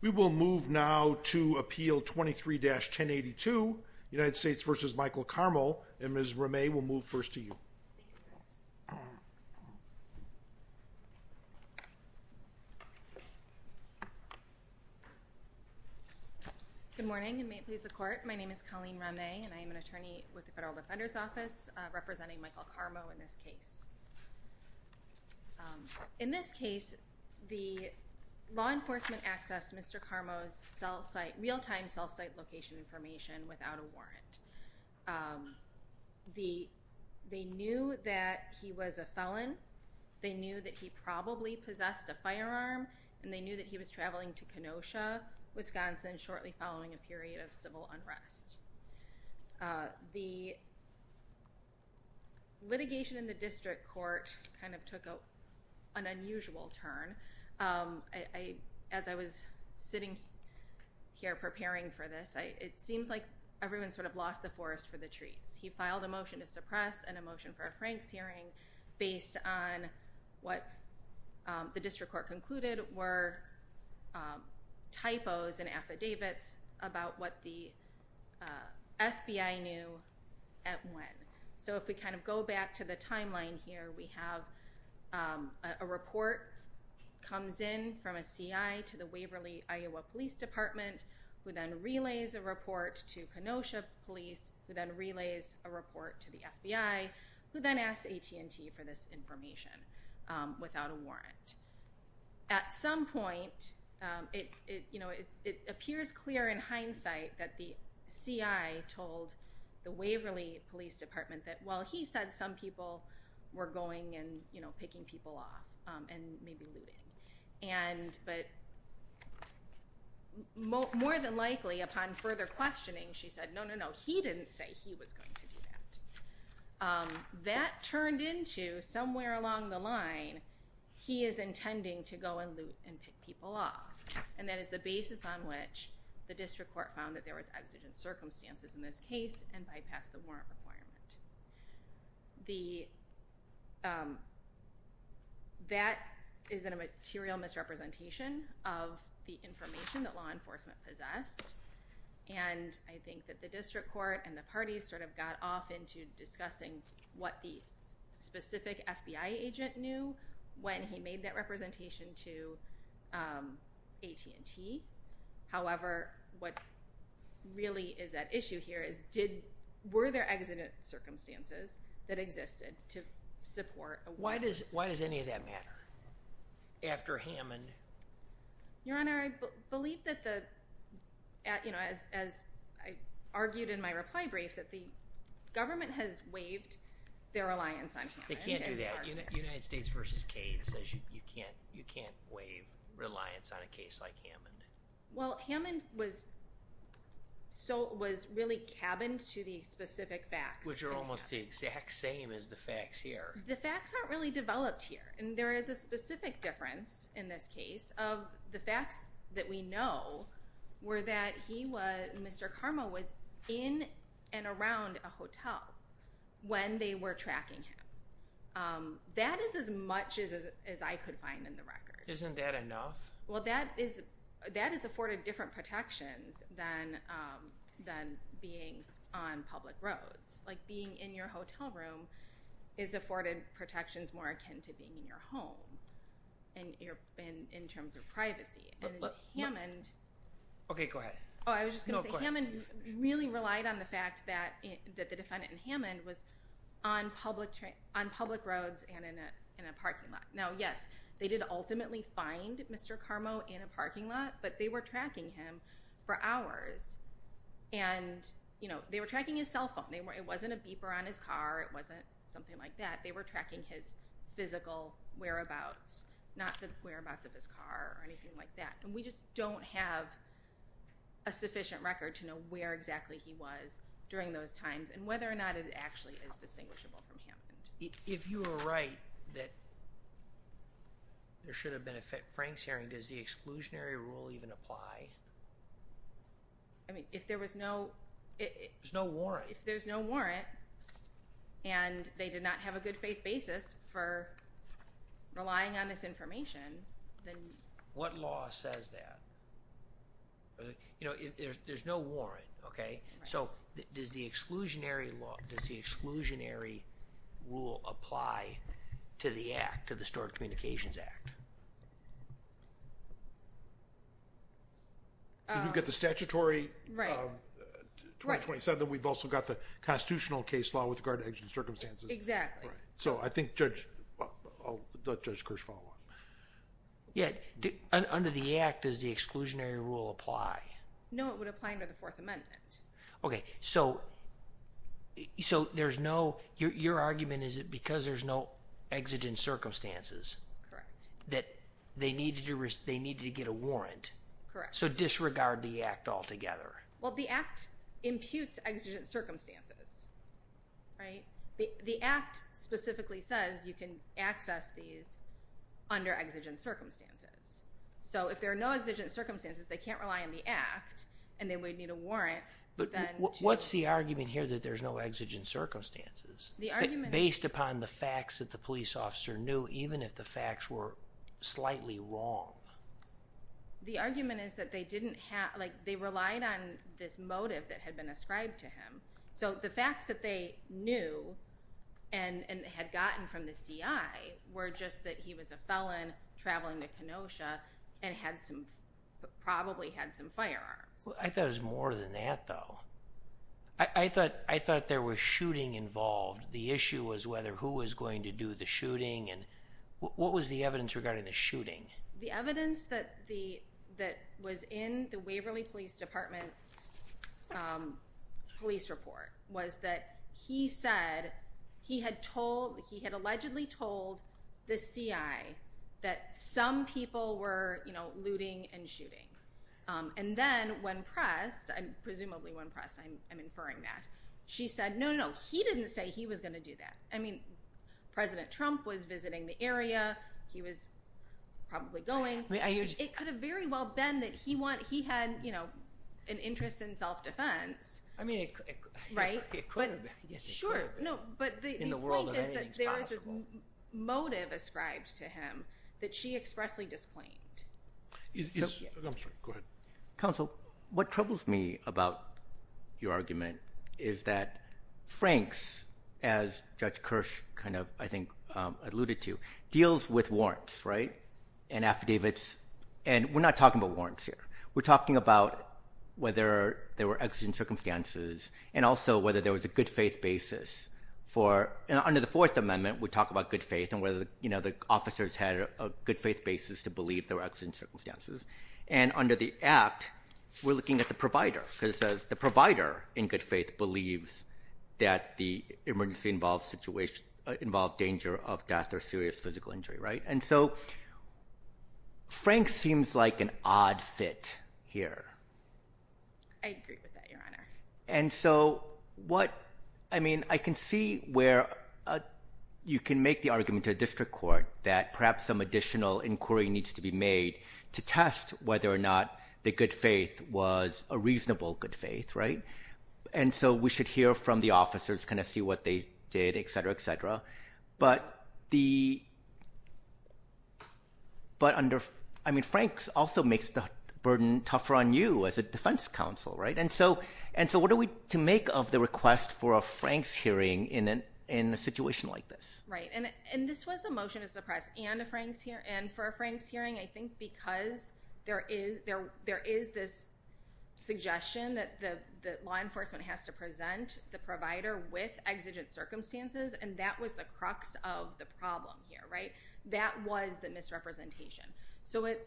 We will move now to Appeal 23-1082, United States v. Michael Karmo, and Ms. Rameh will move first to you. Good morning, and may it please the Court, my name is Colleen Rameh, and I am an attorney with the Federal Defender's Office, representing Michael Karmo in this case. In this case, the law enforcement accessed Mr. Karmo's real-time cell site location information without a warrant. They knew that he was a felon, they knew that he probably possessed a firearm, and they shortly following a period of civil unrest. The litigation in the District Court kind of took an unusual turn. As I was sitting here preparing for this, it seems like everyone sort of lost the forest for the trees. He filed a motion to suppress and a motion for a Franks hearing based on what the District Prosecutor's Office knew at what time. So if we kind of go back to the timeline here, we have a report comes in from a CI to the Waverly, Iowa Police Department, who then relays a report to Kenosha Police, who then relays a report to the FBI, who then asks AT&T for this information without a warrant. At some point, it appears clear in hindsight that the CI told the Waverly Police Department that, well, he said some people were going and picking people off and maybe looting. But more than likely, upon further questioning, she said, no, no, no, he didn't say he was going to do that. That turned into somewhere along the line, he is intending to go and loot and pick people off. And that is the basis on which the District Court found that there was exigent circumstances in this case and bypassed the warrant requirement. That is a material misrepresentation of the information that law enforcement possessed. And I think that the District Court and the parties sort of got off into discussing what the specific FBI agent knew when he made that representation to AT&T. However, what really is at issue here is, were there exigent circumstances that existed to support a warrant? Why does any of that matter after Hammond? Your Honor, I believe that, as I argued in my reply brief, that the government has waived their reliance on Hammond. They can't do that. United States v. Cade says you can't waive reliance on a case like Hammond. Well, Hammond was really cabined to the specific facts. Which are almost the exact same as the facts here. The facts aren't really developed here. There is a specific difference in this case of the facts that we know were that he was, Mr. Carmo was in and around a hotel when they were tracking him. That is as much as I could find in the record. Isn't that enough? Well, that is afforded different protections than being on public roads. Being in your hotel room is afforded protections more akin to being in your home in terms of privacy. Hammond really relied on the fact that the defendant in Hammond was on public roads and in a parking lot. Now, yes, they did ultimately find Mr. Carmo in a parking lot, but they were tracking him for hours. They were tracking his cell phone. It wasn't a beeper on his car. It wasn't something like that. They were tracking his physical whereabouts, not the whereabouts of his car or anything like that. We just don't have a sufficient record to know where exactly he was during those times and whether or not it actually is distinguishable from Hammond. If you were right that there should have been a Franks hearing, does the exclusionary rule even apply? I mean, if there was no... There's no warrant. If there's no warrant and they did not have a good faith basis for relying on this information, then... What law says that? There's no warrant, okay? So, does the exclusionary law, does the exclusionary rule apply to the act, to the Stored Communications Act? You've got the statutory... Right. ...2027. We've also got the constitutional case law with regard to exigent circumstances. Exactly. So, I think, Judge, I'll let Judge Kirsch follow up. Yeah, under the act, does the exclusionary rule apply? No, it would apply under the Fourth Amendment. Okay, so there's no... Your argument is that because there's no exigent circumstances... Correct. ...that they needed to get a warrant. Correct. So, disregard the act altogether. Well, the act imputes exigent circumstances, right? The act specifically says you can access these under exigent circumstances. So, if there are no exigent circumstances, they can't rely on the act, and then we'd need a warrant. But what's the argument here that there's no exigent circumstances... The argument... ...based upon the facts that the police officer knew, even if the facts were slightly wrong? The argument is that they relied on this motive that had been ascribed to him. So, the facts that they knew and had gotten from the CI were just that he was a felon traveling to Kenosha and probably had some firearms. I thought it was more than that, though. I thought there was shooting involved. The issue was whether who was going to do the shooting, and what was the evidence regarding the shooting? The evidence that was in the Waverly Police Department's police report was that he said he had told... He had allegedly told the CI that some people were looting and shooting. And then when pressed, presumably when pressed, I'm inferring that, she said, no, no, no, he didn't say he was going to do that. President Trump was visiting the area. He was probably going. It could have very well been that he had an interest in self-defense. I mean, it could have been. Yes, it could have been. Sure. No, but the point is that there was this motive ascribed to him that she expressly disclaimed. I'm sorry. Go ahead. Counsel, what troubles me about your argument is that Franks, as Judge Kirsch kind of, I think, alluded to, deals with warrants, right, and affidavits. And we're not talking about warrants here. We're talking about whether there were exigent circumstances and also whether there was a good faith basis for... Under the Fourth Amendment, we talk about good faith and whether the officers had a good faith basis to believe there were exigent circumstances. And under the Act, we're looking at the provider because the provider, in good faith, believes that the emergency involved danger of death or serious physical injury, right? And so Franks seems like an odd fit here. I agree with that, Your Honor. And so what... I mean, I can see where you can make the argument to a district court that perhaps some additional inquiry needs to be made to test whether or not the good faith was a reasonable good faith, right? And so we should hear from the officers, kind of see what they did, et cetera, et cetera. But the... But under... I mean, Franks also makes the burden tougher on you as a defense counsel, right? And so what are we to make of the request for a Franks hearing in a situation like this? Right. And this was a motion to suppress and a Franks hearing. And for a Franks hearing, I think because there is this suggestion that the law enforcement has to present the provider with exigent circumstances, and that was the crux of the problem here, right? That was the misrepresentation. So it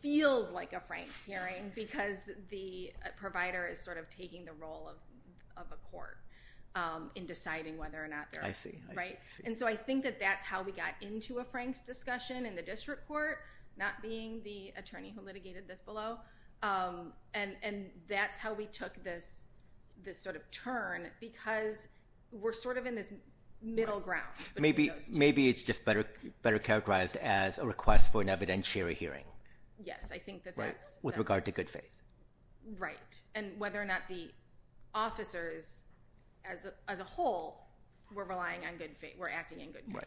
feels like a Franks hearing because the provider is sort of taking the role of a court in deciding whether or not they're... I see. Right? And so I think that that's how we got into a Franks discussion in the district court, not being the attorney who litigated this below. And that's how we took this sort of turn because we're sort of in this middle ground. Maybe it's just better characterized as a request for an evidentiary hearing. Yes, I think that that's... With regard to good faith. Right. And whether or not the officers, as a whole, were relying on good faith, were acting in good faith.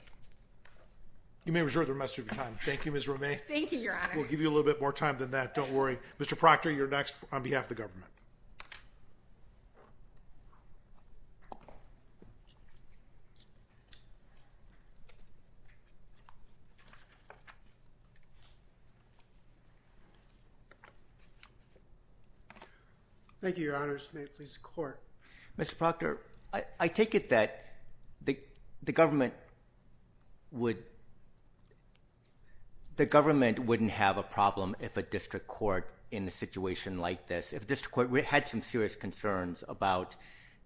You may reserve the rest of your time. Thank you, Ms. Romay. Thank you, Your Honor. We'll give you a little bit more time than that. Don't worry. Mr. Proctor, you're next on behalf of the government. Thank you, Your Honors. May it please the court. Mr. Proctor, I take it that the government wouldn't have a problem if a district court in a situation like this... If a district court had some serious concerns about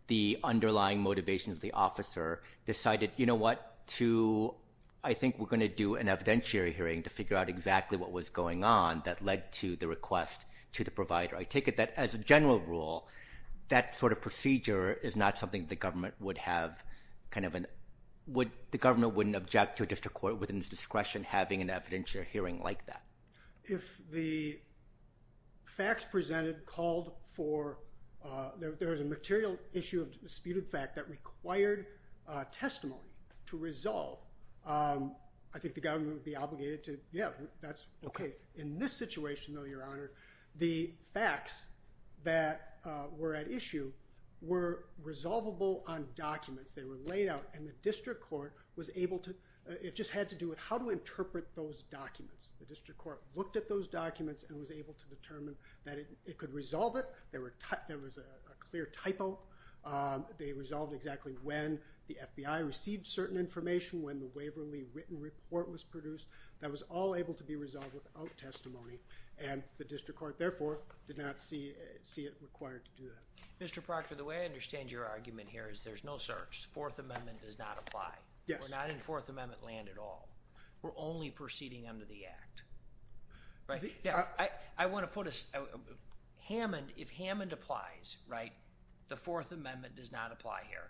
the underlying motivations of the officer, decided, you know what, I think we're going to do an evidentiary hearing to figure out exactly what was going on that led to the request to the provider. I take it that, as a general rule, that sort of procedure is not something the government would have... The government wouldn't object to a district court within its discretion having an evidentiary hearing like that. If the facts presented called for... There was a material issue of disputed fact that required testimony to resolve, I think the government would be obligated to... Yeah, that's okay. In this situation, though, Your Honor, the facts that were at issue were resolvable on documents. They were laid out, and the district court was able to... It just had to do with how to interpret those documents. The district court looked at those documents and was able to determine that it could resolve it. There was a clear typo. They resolved exactly when the FBI received certain information, when the Waverly written report was produced, that was all able to be resolved without testimony, and the district court, therefore, did not see it required to do that. Mr. Proctor, the way I understand your argument here is there's no search. The Fourth Amendment does not apply. Yes. We're not in Fourth Amendment land at all. We're only proceeding under the Act, right? I wanna put a... If Hammond applies, right, the Fourth Amendment does not apply here,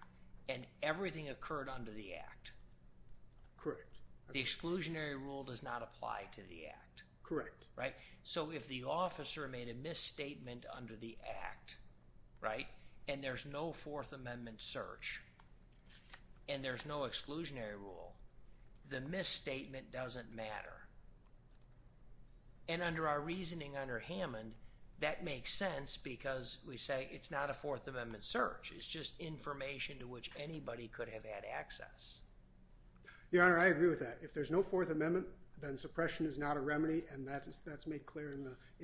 and everything occurred under the Act. Correct. The exclusionary rule does not apply to the Act. Correct. Right? So if the officer made a misstatement under the Act, right, and there's no Fourth Amendment search, and there's no exclusionary rule, the misstatement doesn't matter. And under our reasoning under Hammond, that makes sense because we say it's not a Fourth Amendment search. It's just information to which anybody could have had access. Your Honor, I agree with that. If there's no Fourth Amendment, then suppression is not a remedy, and that's made clear in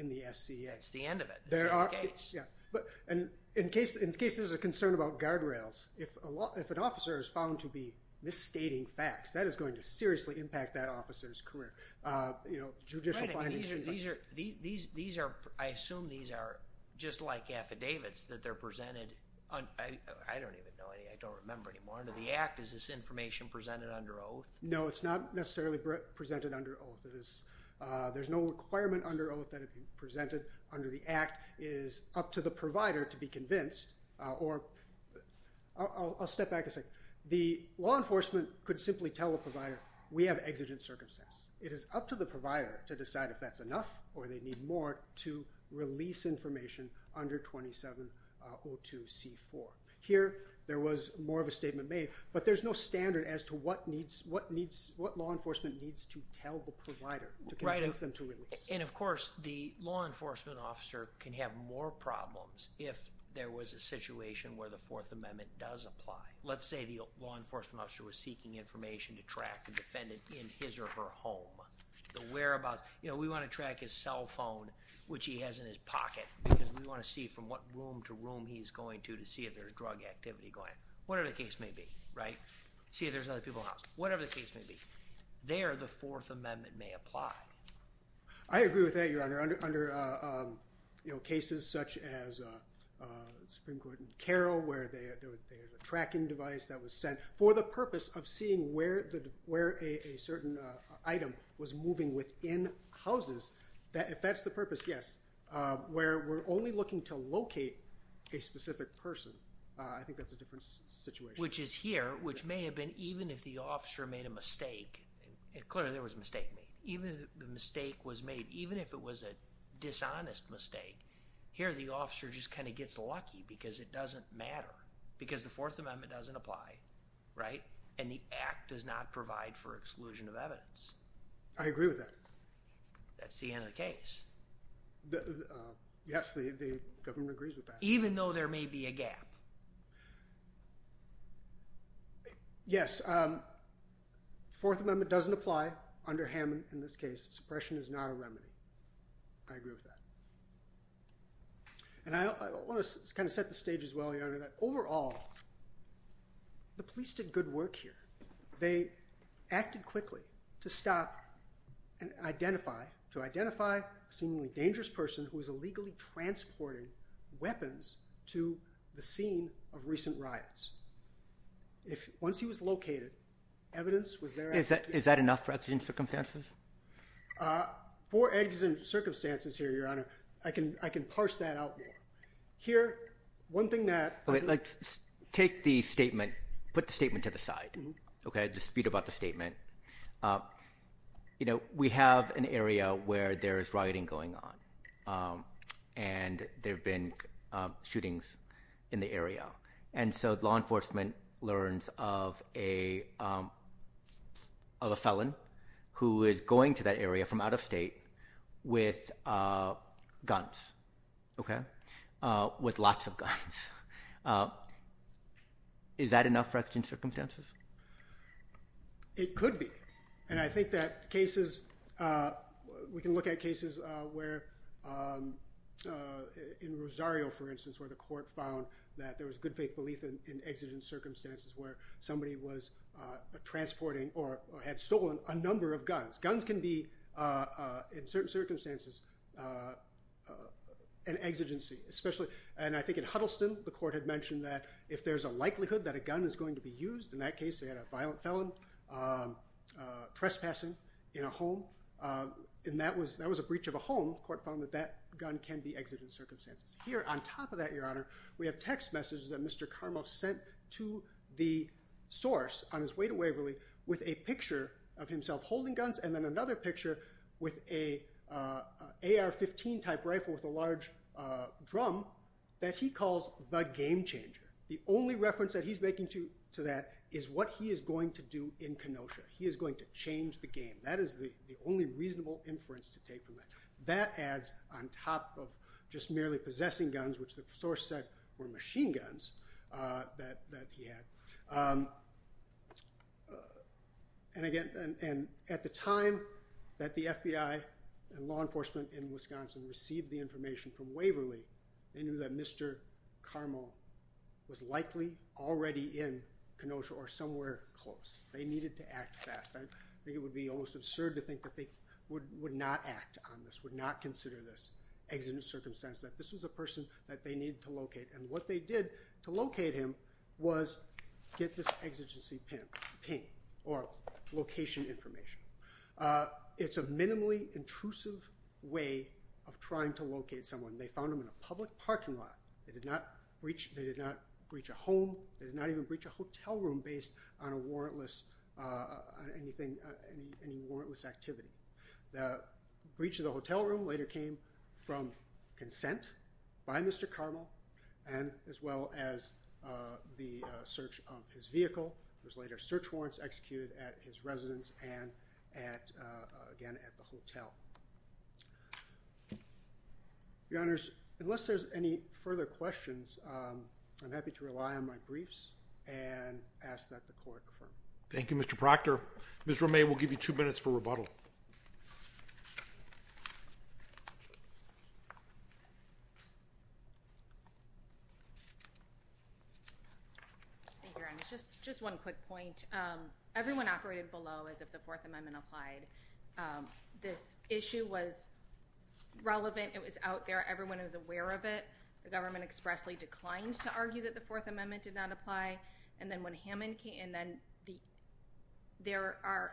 the SCA. That's the end of it. The same case. Yeah. But in case there's a concern about guardrails, if an officer is found to be misstating facts, that is going to seriously impact that officer's career. Judicial findings... Right. And these are... I assume these are just like affidavits that they're presented on... I don't even know any... I don't remember anymore. Under the Act, is this information presented under oath? No, it's not necessarily presented under oath. There's no requirement under oath that it be presented under the Act. It is up to the provider to be convinced or... I'll step back a second. The law enforcement could simply tell the provider, we have exigent circumstances. It is up to the provider to decide if that's enough or they need more to release information under 2702C4. Here, there was more of a statement made, but there's no standard as to what law enforcement needs to tell the provider to convince them to release. And of course, the law enforcement officer can have more problems if there was a situation where the Fourth Amendment does apply. Let's say the law enforcement officer was seeking information to track the defendant in his or her home. The whereabouts... We want to track his cell phone, which he has in his pocket, because we want to see from what room to room he's going to to see if there's drug activity going on. Whatever the case may be, right? See if there's other people in the house. Whatever the case may be. There, the Fourth Amendment may apply. I agree with that, Your Honor. Under cases such as Supreme Court in Carroll, where they had a tracking device that was sent for the purpose of seeing where a certain item was moving within houses. If that's the purpose, yes. Where we're only looking to locate a specific person, I think that's a different situation. Which is here, which may have been even if the officer made a mistake. Clearly, there was a mistake made. Even if the mistake was made, even if it was a dishonest mistake, here the officer just kind of gets lucky because it doesn't matter. Because the Fourth Amendment doesn't apply, right? And the Act does not provide for exclusion of evidence. I agree with that. That's the end of the case. Yes, the government agrees with that. Even though there may be a gap. Yes. Fourth Amendment doesn't apply under Hammond in this case. Suppression is not a remedy. I agree with that. And I want to kind of set the stage as well, Your Honor, that overall, the police did good work here. They acted quickly to stop and identify, to identify a seemingly dangerous person who was illegally transporting weapons to the scene of recent riots. Once he was located, evidence was there. Is that enough for exigent circumstances? For exigent circumstances here, Your Honor, I can parse that out more. Here, one thing that— Take the statement, put the statement to the side. Dispute about the statement. We have an area where there is rioting going on. And there have been shootings in the area. And so law enforcement learns of a felon who is going to that area from out of state with guns, with lots of guns. Is that enough for exigent circumstances? It could be. And I think that cases—we can look at cases where—in Rosario, for instance, where the court found that there was good faith belief in exigent circumstances where somebody was transporting or had stolen a number of guns. Guns can be, in certain circumstances, an exigency, especially—and I think in Huddleston, the court had mentioned that if there's a likelihood that a gun is going to be used, in that case, they had a violent felon trespassing in a home, and that was a breach of a home, court found that that gun can be exigent circumstances. Here, on top of that, Your Honor, we have text messages that Mr. Karmoff sent to the source on his way to Waverly with a picture of himself holding guns and then another picture with an AR-15 type rifle with a large drum that he calls the game changer. The only reference that he's making to that is what he is going to do in Kenosha. He is going to change the game. That is the only reasonable inference to take from that. That adds on top of just merely possessing guns, which the source said were machine guns that he had. Again, at the time that the FBI and law enforcement in Wisconsin received the information from Waverly, they knew that Mr. Karmoff was likely already in Kenosha or somewhere close. They needed to act fast. I think it would be almost absurd to think that they would not act on this, would not consider this exigent circumstance, that this was a person that they needed to locate, and what they did to locate him was get this exigency pin or location information. It's a minimally intrusive way of trying to locate someone. They found him in a public parking lot. They did not breach a home. They did not even breach a hotel room based on any warrantless activity. The breach of the hotel room later came from consent by Mr. Karmoff, as well as the search of his vehicle. There was later search warrants executed at his residence and again at the hotel. Your Honors, unless there's any further questions, I'm happy to rely on my briefs and ask that the Court confirm. Thank you, Mr. Proctor. Your Honors, just one quick point. Everyone operated below as if the Fourth Amendment applied. This issue was relevant. It was out there. Everyone was aware of it. The government expressly declined to argue that the Fourth Amendment did not apply. Then there are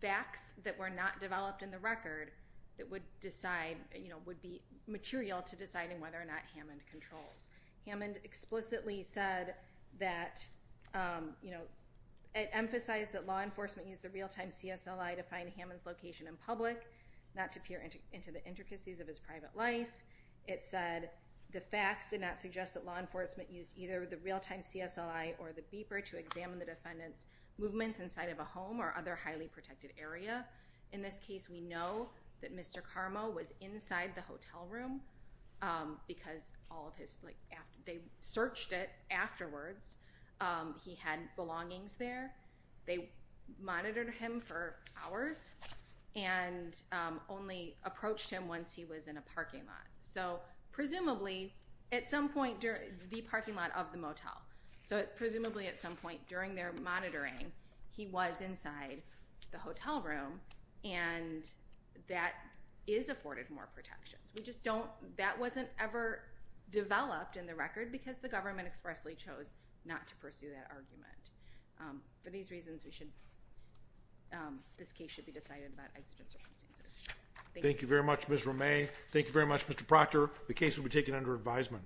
facts that were not developed in the record that would be material to deciding whether or not Hammond controls. Hammond explicitly said that it emphasized that law enforcement used the real-time CSLI to find Hammond's location in public, not to peer into the intricacies of his private life. It said the facts did not suggest that law enforcement used either the real-time CSLI or the beeper to examine the defendant's movements inside of a home or other highly protected area. In this case, we know that Mr. Karmoff was inside the hotel room because they searched it afterwards. He had belongings there. They monitored him for hours and only approached him once he was in a parking lot, the parking lot of the motel. Presumably, at some point during their monitoring, he was inside the hotel room, and that is afforded more protections. That wasn't ever developed in the record because the government expressly chose not to pursue that argument. For these reasons, this case should be decided about exigent circumstances. Thank you. Thank you very much, Ms. Romay. Thank you very much, Mr. Proctor. The case will be taken under advisement.